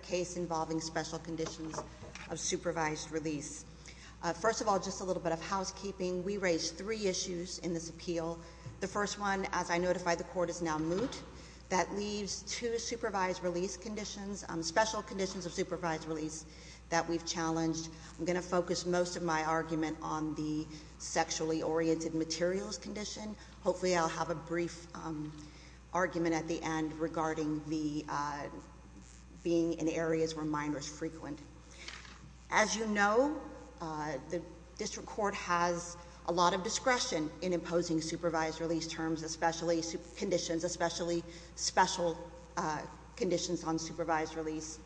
case involving special conditions of supervised release. First of all, just a little bit of housekeeping. We raised three issues in this appeal. The first one, as I notified, the court is now moot. That leaves two supervised release conditions, special conditions of supervised release that we've challenged. I'm going to focus most of my argument on the sexually oriented materials condition. Hopefully I'll have a brief argument at the end regarding the being in areas where minors frequent. As you know, uh, the district court has a lot of discretion in imposing supervised release terms, especially conditions, especially special conditions on supervised release.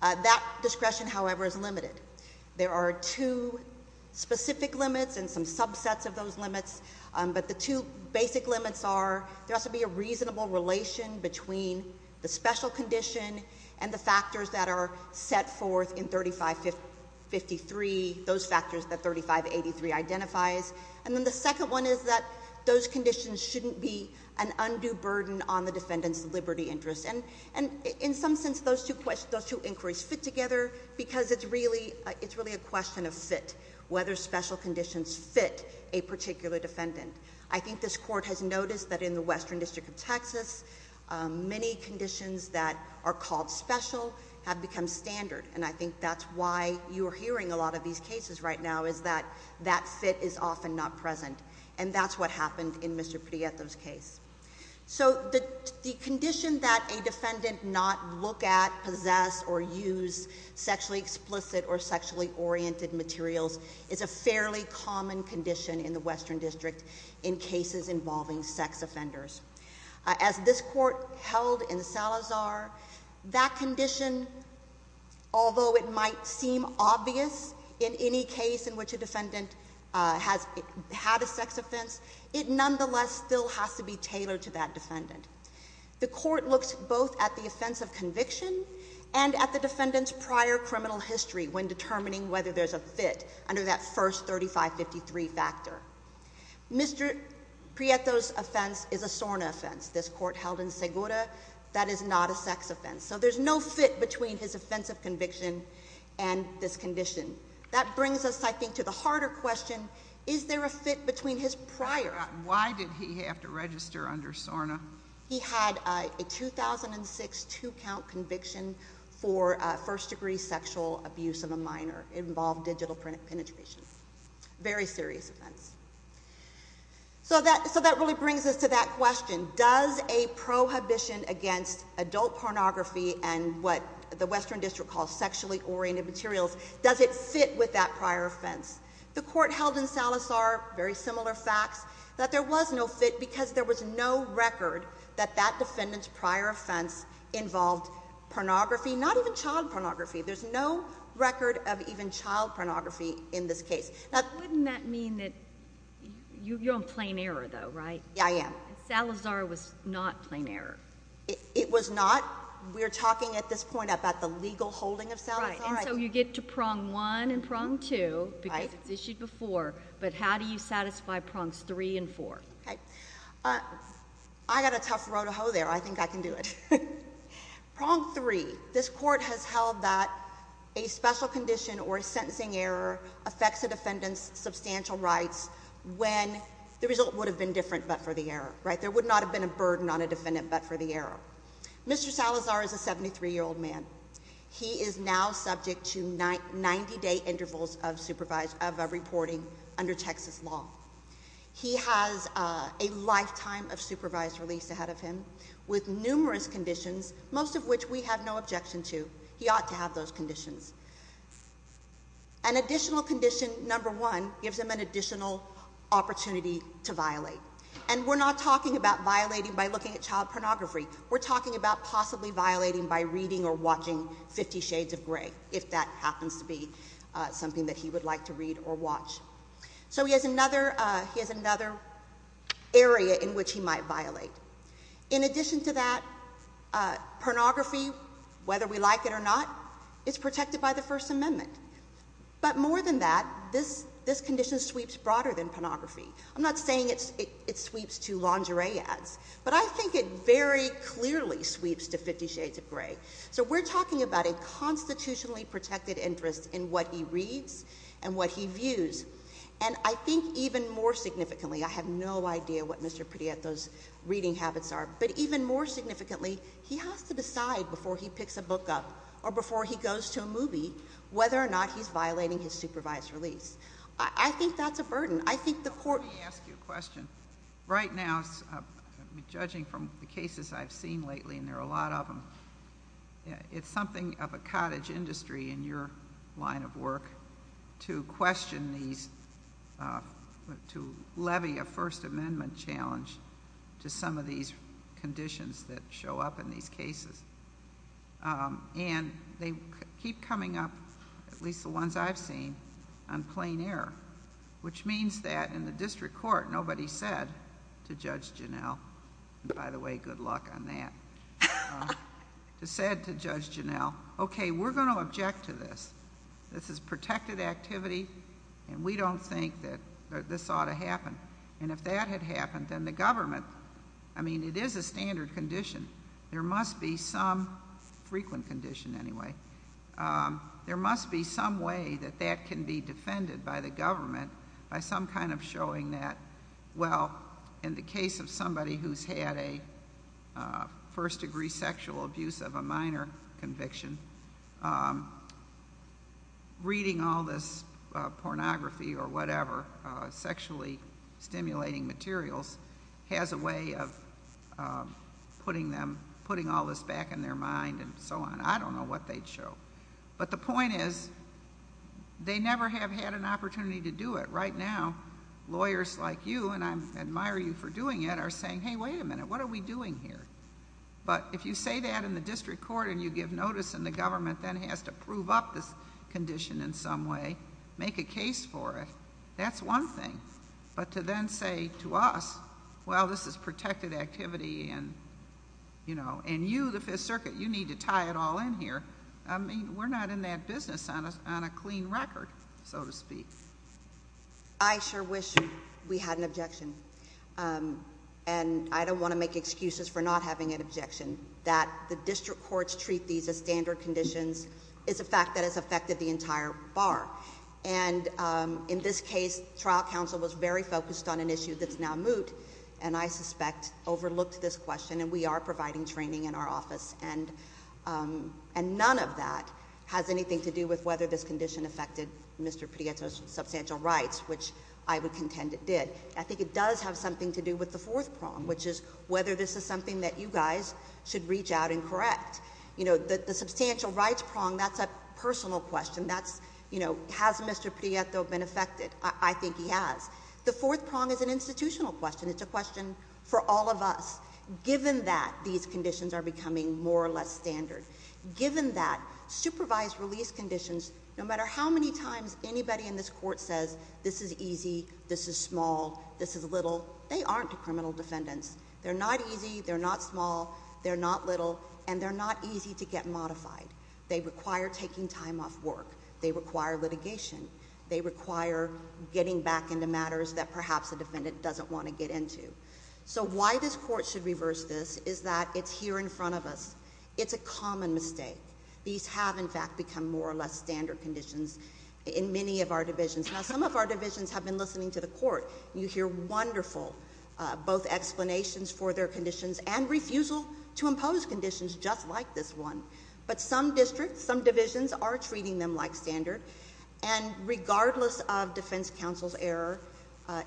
That discretion, however, is limited. There are two specific limits and some subsets of those limits. But the two basic limits are there has to be a reasonable relation between the special condition and the factors that are set forth in 3553, those factors that 3583 identifies. And then the second one is that those conditions shouldn't be an undue burden on the defendant's liberty interest. And in some sense, those two inquiries fit together because it's really a question of fit, whether special conditions fit a particular defendant. I think this court has in the District of Texas, many conditions that are called special have become standard. And I think that's why you're hearing a lot of these cases right now is that that fit is often not present. And that's what happened in Mr Prieto's case. So the condition that a defendant not look at, possess or use sexually explicit or sexually oriented materials is a fairly common condition in the Western District in cases involving sex offenders. As this court held in Salazar, that condition, although it might seem obvious in any case in which a defendant has had a sex offense, it nonetheless still has to be tailored to that defendant. The court looks both at the offense of conviction and at the defendant's prior criminal history when determining whether there's a fit under that first 3553 factor. Mr Prieto's offense is a SORNA offense. This court held in Segura, that is not a sex offense. So there's no fit between his offensive conviction and this condition. That brings us, I think, to the harder question. Is there a fit between his prior? Why did he have to register under SORNA? He had a 2006 two count conviction for first degree sexual abuse of a minor. It involved digital penetration. Very serious offense. So that really brings us to that question. Does a prohibition against adult pornography and what the Western District calls sexually oriented materials, does it fit with that prior offense? The court held in Salazar, very similar facts, that there was no fit involved pornography, not even child pornography. There's no record of even child pornography in this case. Wouldn't that mean that you're on plain error though, right? Yeah, I am. Salazar was not plain error. It was not. We're talking at this point about the legal holding of Salazar. So you get to prong one and prong two because it's issued before. But how do you satisfy prongs three and four? I got a tough road to hoe there. I think I can do it. Prong three. This court has held that a special condition or a sentencing error affects the defendant's substantial rights when the result would have been different. But for the error, right, there would not have been a burden on a defendant. But for the error, Mr Salazar is a 73 year old man. He is now subject to 90 day intervals of supervised of a reporting under Texas law. He has a lifetime of supervised release ahead of him with numerous conditions, most of which we have no objection to. He ought to have those conditions. An additional condition number one gives him an additional opportunity to violate. And we're not talking about violating by looking at child pornography. We're talking about possibly violating by reading or watching 50 Shades of Gray if that happens to be something that he would like to read or watch. So he has another. He has another area in which he might violate. In addition to that, uh, pornography, whether we like it or not, it's protected by the First Amendment. But more than that, this this condition sweeps broader than pornography. I'm not saying it's it sweeps to lingerie ads, but I think it very clearly sweeps to 50 Shades of Gray. So we're talking about a constitutionally protected interest in what he reads and what he views. And I think even more significantly, I have no idea what Mr Pretty at those reading habits are. But even more significantly, he has to decide before he picks a book up or before he goes to a movie whether or not he's violating his supervised release. I think that's a burden. I think the court may ask you a question right now, judging from the cases I've seen lately, and there are a lot of them. It's something of a cottage industry in your line of work to question these, uh, to levy a First Amendment challenge to some of these conditions that show up in these cases. Um, and they keep coming up, at least the ones I've seen on plain air, which means that in the district court, nobody said to Judge Janelle, by the way, good luck on that, said to Judge Janelle, Okay, we're going to object to this. This is protected activity, and we don't think that this ought to happen. And if that had happened, then the government, I mean, it is a standard condition. There must be some frequent condition anyway. Um, there must be some way that that can be defended by the government by some kind of showing that, well, in the case of somebody who's had a, uh, first degree sexual abuse of a minor conviction, um, reading all this, uh, pornography or whatever, uh, sexually stimulating materials has a way of, uh, putting them, putting all this back in their mind and so on. I don't know what they'd show. But the point is they never have had an opportunity to do it. Right now, lawyers like you, and I admire you for saying, Hey, wait a minute. What are we doing here? But if you say that in the district court and you give notice, and the government then has to prove up this condition in some way, make a case for it. That's one thing. But to then say to us, Well, this is protected activity and, you know, and you, the Fifth Circuit, you need to tie it all in here. I mean, we're not in that business on a on a clean record, so to speak. I sure wish we had an objection. Um, and I don't want to make excuses for not having an objection that the district courts treat these a standard conditions is a fact that has affected the entire bar. And, um, in this case, trial counsel was very focused on an issue that's now moot, and I suspect overlooked this question, and we are providing training in our office. And, um, and none of that has anything to do with whether this condition affected Mr Prieto's substantial rights, which I would contend it did. I think it does have something to do with the fourth prong, which is whether this is something that you guys should reach out and correct. You know, the substantial rights prong. That's a personal question. That's, you know, has Mr Prieto been affected? I think he has. The fourth prong is an institutional question. It's a question for all of us. Given that these conditions are becoming more or less standard, given that supervised release conditions, no matter how many times anybody in this court says this is easy. This is small. This is little. They aren't a criminal defendants. They're not easy. They're not small. They're not little, and they're not easy to get modified. They require taking time off work. They require litigation. They require getting back into matters that perhaps the defendant doesn't want to get into. So why this court should reverse this is that it's here in front of us. It's a common mistake. These have, in fact, become more or less standard conditions in many of our divisions. Now, some of our divisions have been listening to the court. You hear wonderful both explanations for their conditions and refusal to impose conditions just like this one. But some districts, some divisions are treating them like standard, and regardless of defense counsel's error,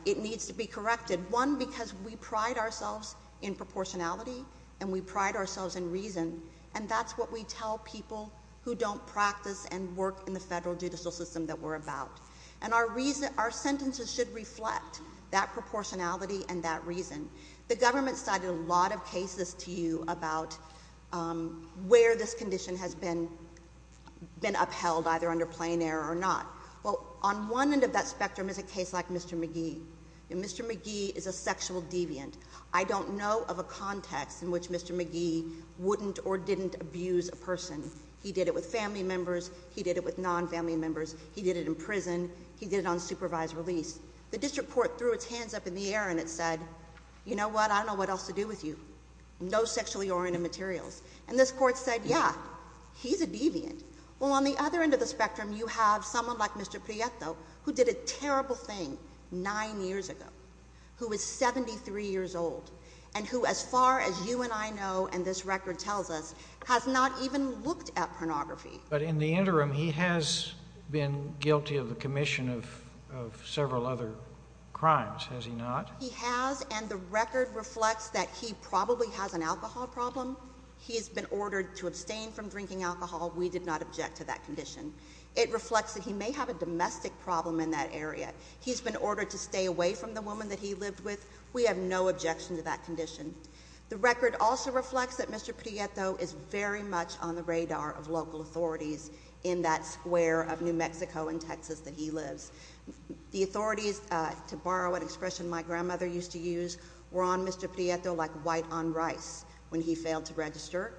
it needs to be corrected. One, because we pride ourselves in proportionality, and we pride ourselves in reason, and that's what we tell people who don't practice and work in the federal judicial system that we're about. And our reason our sentences should reflect that proportionality and that reason. The government cited a lot of cases to you about, um, where this condition has been been upheld, either under plain air or not. Well, on one end of that spectrum is a case like Mr McGee. Mr McGee is a sexual deviant. I don't know of a context in which Mr McGee wouldn't or didn't abuse a person. He did it with family members. He did it with non family members. He did it in prison. He did it on supervised release. The district court threw its hands up in the air, and it said, You know what? I don't know what else to do with you. No sexually oriented materials. And this court said, Yeah, he's a deviant. Well, on the other end of the spectrum, you have someone like Mr Prieto, who did a terrible thing nine years ago, who was 73 years old and who, as far as you and I know, and this record tells us, has not even looked at pornography. But in the interim, he has been guilty of the commission of of several other crimes. Has he not? He has. And the record reflects that he probably has an alcohol problem. He has been ordered to abstain from drinking alcohol. We did not object to that condition. It reflects that he may have a domestic problem in that area. He's been ordered to stay away from the woman that he lived with. We have no objection to that condition. The record also reflects that Mr Prieto is very much on the radar of local authorities in that square of New Mexico and Texas that he lives. The authorities to borrow an expression my grandmother used to use were on Mr Prieto like white on rice when he failed to register,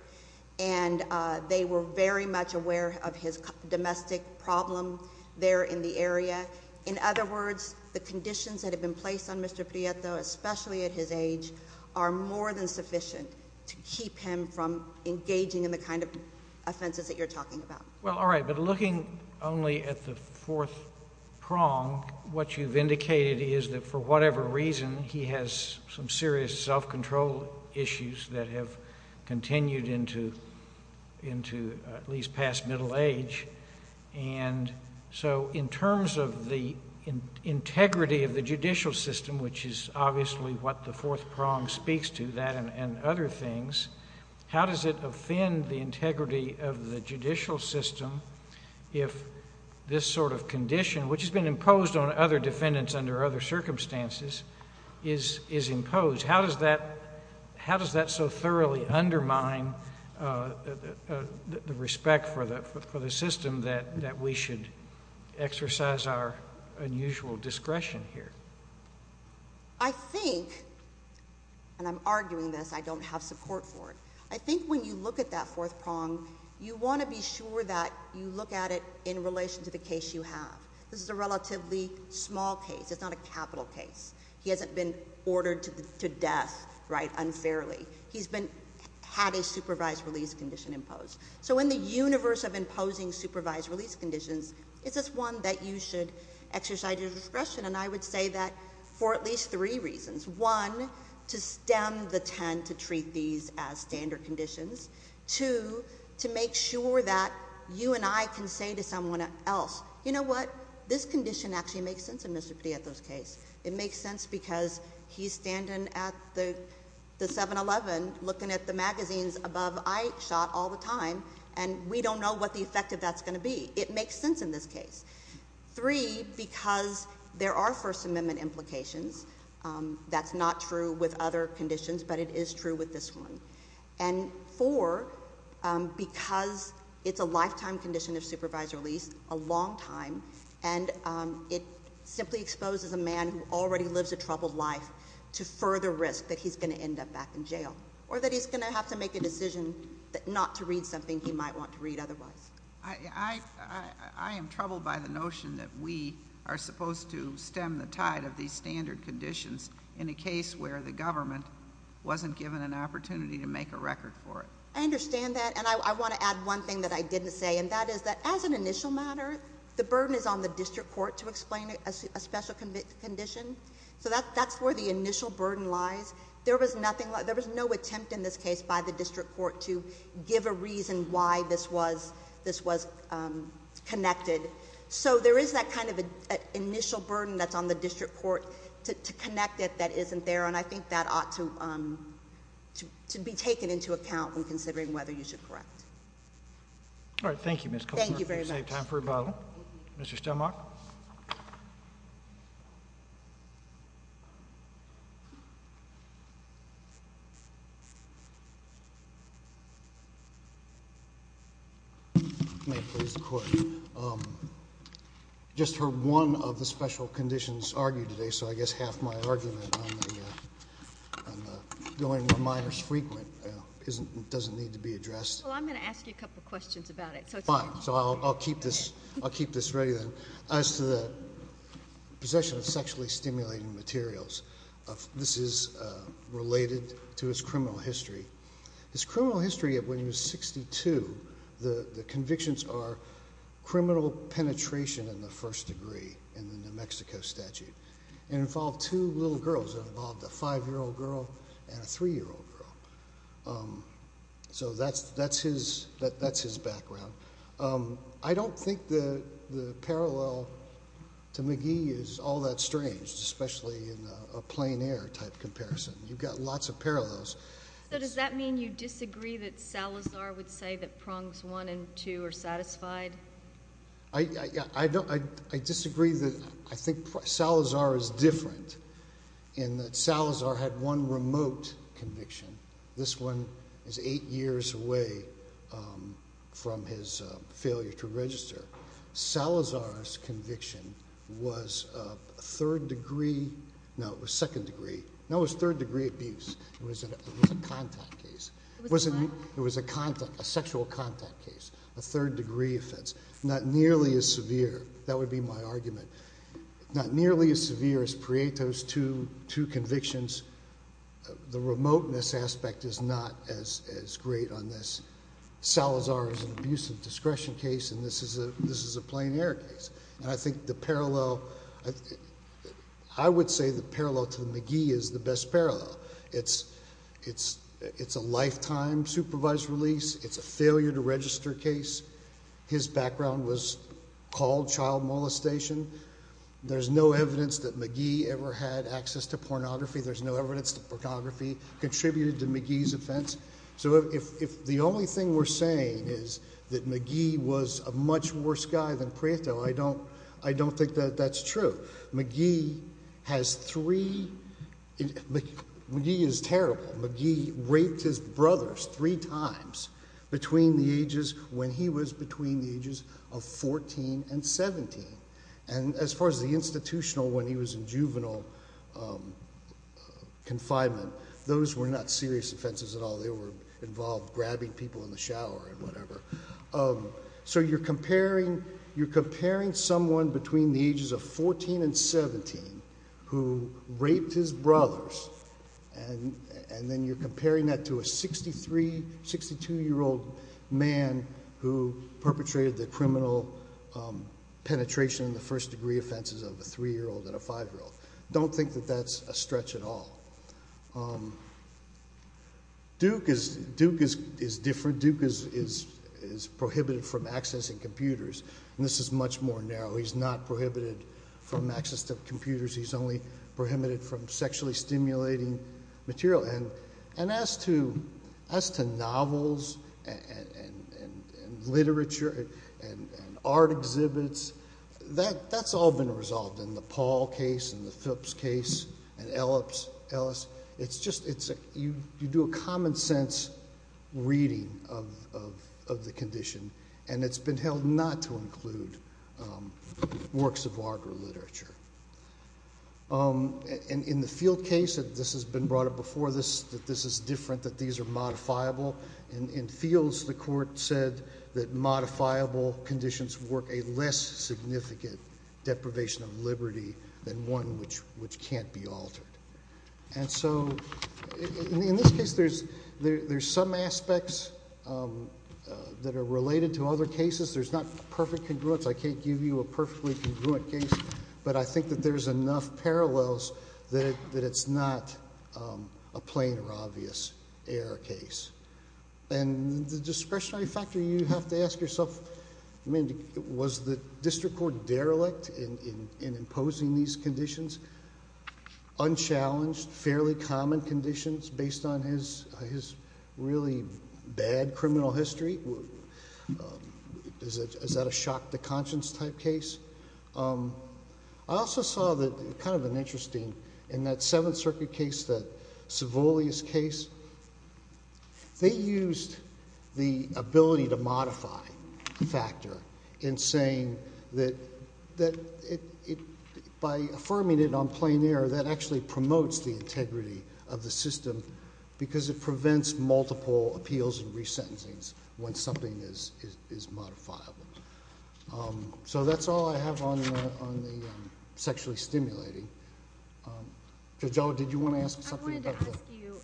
and they were very much aware of his domestic problem there in the area. In other words, the conditions that have been placed on Mr especially at his age are more than sufficient to keep him from engaging in the kind of offenses that you're talking about. Well, all right. But looking only at the fourth prong, what you've indicated is that for whatever reason, he has some serious self control issues that have continued into into at least past middle age. And so in terms of the integrity of the judicial system, which is obviously what the fourth prong speaks to that and other things, how does it offend the integrity of the judicial system if this sort of condition, which has been imposed on other defendants under other circumstances, is imposed? How does that so thoroughly undermine the respect for the system that we should exercise our unusual discretion here? I think and I'm arguing this. I don't have support for it. I think when you look at that fourth prong, you want to be sure that you look at it in relation to the case you have. This is a relatively small case. It's not a capital case. He hasn't been ordered to death right unfairly. He's been had a supervised release condition imposed. So in the universe of imposing supervised release conditions, is this one that you should exercise your discretion? And I would say that for at least three reasons, one to stem the tend to treat these as standard conditions to to make sure that you and I can say to someone else, You know what? This condition actually makes sense. And Mr Petito's case, it makes sense because he's standing at the 7 11 looking at the magazines above. I shot all the time and we don't know what the effect of that's gonna be. It makes sense in this case. Three, because there are First Amendment implications. Um, that's not true with other conditions, but it is true with this one and four because it's a lifetime condition of supervised release a long time, and it simply exposes a man who already lives a troubled life to further risk that he's gonna end up back in jail or that he's gonna have to make a decision that not to read something he might want to read. Otherwise, I am troubled by the notion that we are supposed to stem the tide of these standard conditions in a case where the government wasn't given an opportunity to make a record for it. I understand that. And I want to add one thing that I didn't say, and that is that as an initial matter, the burden is on the district court to explain a special condition. So that's where the initial burden lies. There was nothing in this case by the district court to give a reason why this was. This was connected. So there is that kind of a initial burden that's on the district court to connect it. That isn't there. And I think that ought to, um, to be taken into account when considering whether you should correct. All right. Thank you, Miss. Thank you very much. Time for a bottle. Mr Stomach. Yeah. May please the court. Um, just heard one of the special conditions argued today. So I guess half my argument going to minors frequent isn't doesn't need to be addressed. Well, I'm gonna ask you a couple of questions about it. So I'll keep this. I'll keep this ready then as to the possession of sexually stimulating materials. This is related to his criminal history. His criminal history of when he was 62. The convictions are criminal penetration in the first degree in the New Mexico statute and involved two little girls involved a five year old girl and a three year old girl. Um, so that's that's his. That's his background. I don't think the parallel to McGee is all that strange, especially in a plane air type comparison. You've got lots of parallels. So does that mean you disagree that Salazar would say that prongs one and two are satisfied? I don't. I disagree that I think Salazar is different in that Salazar had one remote conviction. This one is eight years away, um, from his failure to was third degree abuse. It was a contact case. It was a contact, a sexual contact case, a third degree offense, not nearly as severe. That would be my argument. Not nearly as severe as Prieto's to two convictions. The remoteness aspect is not as great on this. Salazar is an abusive discretion case. And this is a, this is a plane air case. And I think the parallel, I would say the parallel to McGee is the best parallel. It's, it's, it's a lifetime supervised release. It's a failure to register case. His background was called child molestation. There's no evidence that McGee ever had access to pornography. There's no evidence that pornography contributed to McGee's offense. So if the only thing we're saying is that McGee was a much worse guy than Prieto, I don't, I don't think that that's true. McGee has three, McGee is terrible. McGee raped his brothers three times between the ages when he was between the ages of 14 and 17. And as far as the institutional, when he was in juvenile, um, confinement, those were not serious offenses at all. They were involved grabbing people in the shower and whatever. Um, so you're comparing, you're comparing someone between the ages of 14 and 17 who raped his brothers. And, and then you're comparing that to a 63, 62 year old man who perpetrated the criminal, um, penetration in the first degree offenses of a three year old and a five year old. Don't think that that's a stretch at all. Um, Duke is, Duke is, is different. Duke is, is, is prohibited from accessing computers and this is much more narrow. He's not prohibited from access to computers. He's only prohibited from sexually stimulating material. And, and as to, as to novels and, and, and, um, art exhibits that that's all been resolved in the Paul case and the Phipps case and Ellips Ellis. It's just, it's a, you do a common sense reading of, of, of the condition and it's been held not to include, um, works of art or literature. Um, and in the field case that this has been brought up before this, that this is different, that these are modifiable in, in fields. The court said that modifiable conditions work a less significant deprivation of liberty than one which, which can't be altered. And so in this case there's, there's some aspects, um, uh, that are related to other cases. There's not perfect congruence. I can't give you a perfectly congruent case, but I think that there's enough parallels that, that it's not, um, a plain or obvious error case. And the discretionary factor you have to ask yourself, I mean, was the district court derelict in, in, in imposing these conditions? Unchallenged, fairly common conditions based on his, his really bad criminal history? Is that a shock to conscience type case? Um, I also saw that kind of an interesting, in that Seventh Circuit case, that a modified factor in saying that, that it, it, by affirming it on plain air, that actually promotes the integrity of the system because it prevents multiple appeals and resentencings when something is, is, is modifiable. Um, so that's all I have on the, on the, um, sexually stimulating. Um, Judge O, did you want to ask something about that? I wanted to ask you,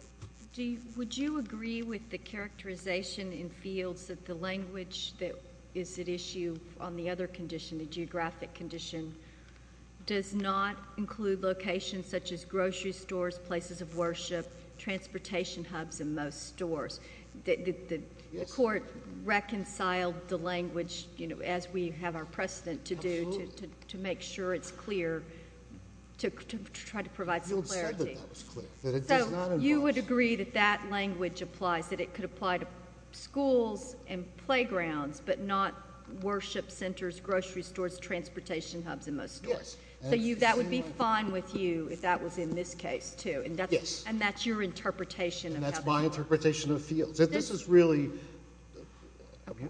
do you, would you agree with the characterization in fields that the language that is at issue on the other condition, the geographic condition, does not include locations such as grocery stores, places of worship, transportation hubs, and most stores? The, the, the court reconciled the language, you know, as we have our precedent to do, to, to, to make sure it's clear, to, to try to provide some clarity. You said that that was clear, that it does not involve... So, you would agree that that language applies, that it could apply to schools and playgrounds, but not worship centers, grocery stores, transportation hubs, and most stores. Yes. So you, that would be fine with you if that was in this case, too. And that's... And that's your interpretation of how... And that's my interpretation of fields. And this is really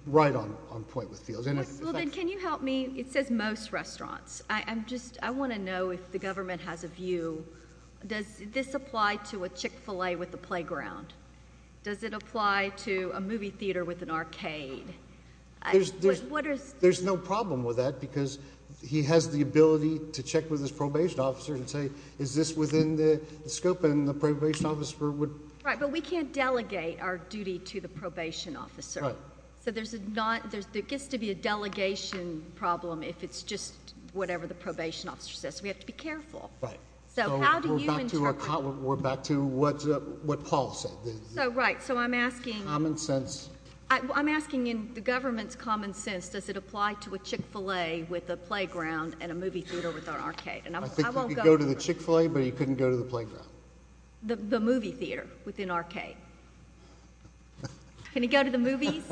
right on, on point with fields. And if... Well, then, can you help me? It says most restaurants. I, I'm just, I want to know if the government has a view. Does this apply to a Chick-fil-A with a barricade? I, what, what are... There's, there's, there's no problem with that because he has the ability to check with his probation officer and say, is this within the, the scope and the probation officer would... Right. But we can't delegate our duty to the probation officer. Right. So, there's a non, there's, there gets to be a delegation problem if it's just whatever the probation officer says. We have to be careful. Right. So, how do you interpret... So, we're back to our, we're back to what, what Paul said. So, right. So, I'm asking... Common sense. I, I'm asking in the government's common sense, does it apply to a Chick-fil-A with a playground and a movie theater with an arcade? And I, I won't go... I think you could go to the Chick-fil-A, but you couldn't go to the playground. The, the movie theater with an arcade. Can you go to the movies?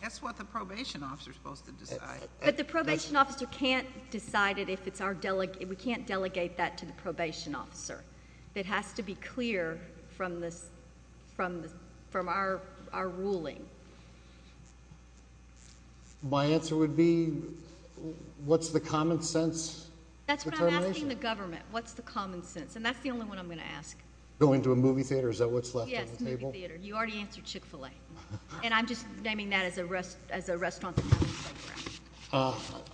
That's what the probation officer's supposed to decide. But the probation officer can't decide it if it's our, we can't delegate that to the probation officer. It has to be clear from the, from the, from our, our ruling. My answer would be, what's the common sense determination? That's what I'm asking the government. What's the common sense? And that's the only one I'm going to ask. Going to a movie theater, is that what's left on the table? Yes, movie theater. You already answered Chick-fil-A. And I'm just naming that as a rest, as a restaurant that doesn't have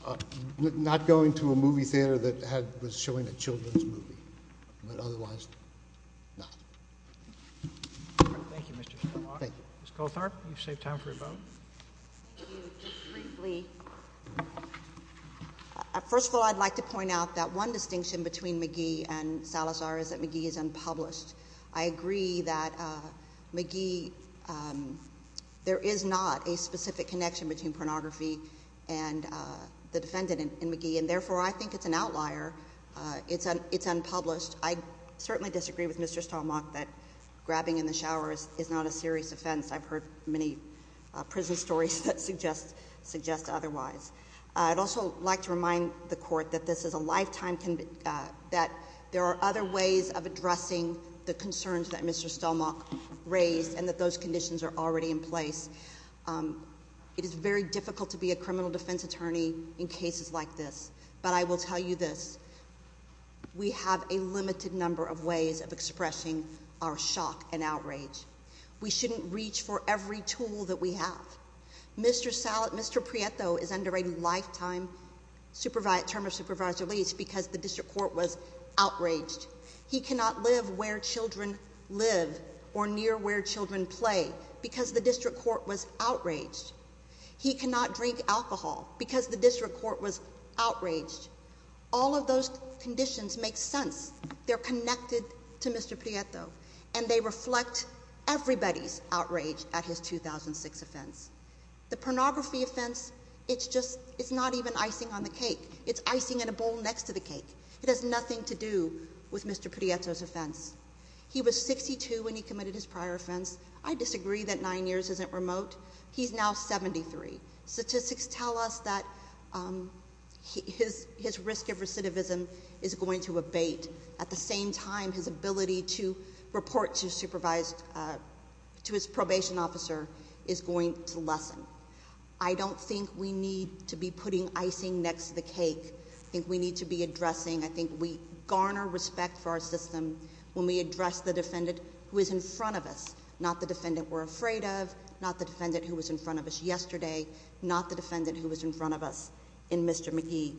a playground. Not going to a movie theater that had, was showing a children's movie. But otherwise, not. Thank you, Mr. Spillaw. Thank you. Ms. Goldtharp, you've saved time for your vote. Thank you. Just briefly. First of all, I'd like to point out that one distinction between McGee and Salazar is that McGee is unpublished. I agree that McGee, there is not a specific connection between pornography and the defendant in McGee. And therefore, I think it's an outlier. It's unpublished. I certainly disagree with Mr. Stalmach that grabbing in the shower is not a serious offense. I've heard many prison stories that suggest otherwise. I'd also like to remind the court that this is a lifetime, that there are other ways of addressing the concerns that Mr. Stalmach raised, and that those conditions are already in place. It is very difficult to be a criminal defense attorney in cases like this. But I will tell you this. We have a limited number of ways of expressing our shock and outrage. We shouldn't reach for every tool that we have. Mr. Prieto is under a lifetime term of supervised release because the district court was outraged. He cannot live where children live or near where children play because the district court was outraged. He cannot drink alcohol because the district court was outraged. All of those conditions make sense. They're connected to Mr. Prieto, and they reflect everybody's outrage at his 2006 offense. The pornography offense, it's just, it's not even icing on the cake. It's icing in a bowl next to the cake. It has nothing to do with Mr. Prieto's offense. He was 62 when he committed his prior offense. I disagree that nine years isn't remote. He's now 73. Statistics tell us that his risk of recidivism is going to abate. At the same time, his ability to report to his probation officer is going to lessen. I don't think we need to be putting icing next to the cake. I think we need to be addressing, I think we garner respect for our system when we address the defendant who is in front of us. Not the defendant we're afraid of, not the defendant who was in front of us yesterday, not the defendant who was in front of us in Mr. McGee.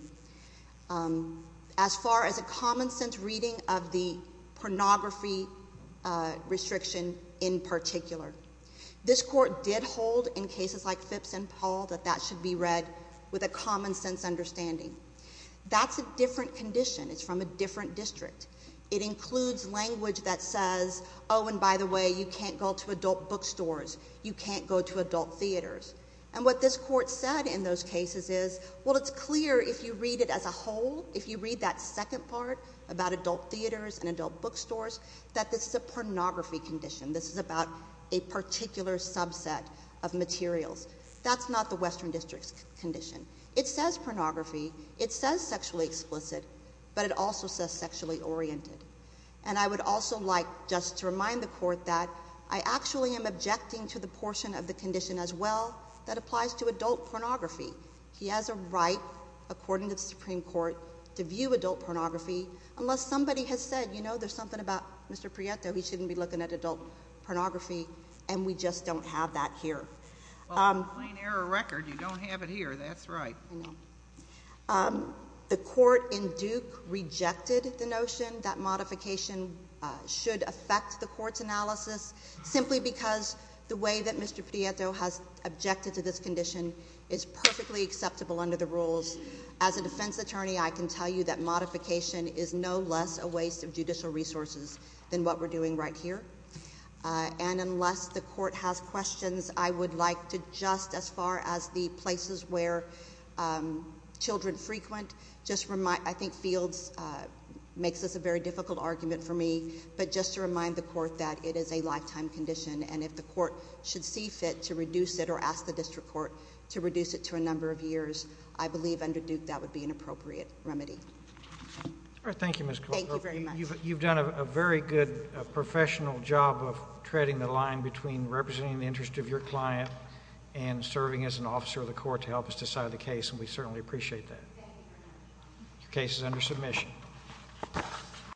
As far as a common sense reading of the pornography restriction in particular. This court did hold, in cases like Phipps and Paul, that that should be read with a common sense understanding. That's a different condition, it's from a different district. It includes language that says, and by the way, you can't go to adult bookstores, you can't go to adult theaters. And what this court said in those cases is, well, it's clear if you read it as a whole, if you read that second part about adult theaters and adult bookstores, that this is a pornography condition. This is about a particular subset of materials. That's not the Western District's condition. It says pornography, it says sexually explicit, but it also says sexually oriented. And I would also like just to remind the court that I actually am objecting to the portion of the condition as well that applies to adult pornography. He has a right, according to the Supreme Court, to view adult pornography. Unless somebody has said, you know, there's something about Mr. Prieto, he shouldn't be looking at adult pornography, and we just don't have that here. Well, it's a plain error record, you don't have it here, that's right. I know. The court in Duke rejected the notion that modification should affect the court's analysis, simply because the way that Mr. Prieto has objected to this condition is perfectly acceptable under the rules. As a defense attorney, I can tell you that modification is no less a waste of judicial resources than what we're doing right here. And unless the court has questions, I would like to just, as far as the places where children frequent, just remind, I think Fields makes this a very difficult argument for me. But just to remind the court that it is a lifetime condition, and if the court should see fit to reduce it or ask the district court to reduce it to a number of years, I believe under Duke that would be an appropriate remedy. All right, thank you, Ms. Cooper. Thank you very much. You've done a very good professional job of treading the line between representing the interest of your client and serving as an officer of the court to help us decide the case, and we certainly appreciate that. Thank you very much. Your case is under submission.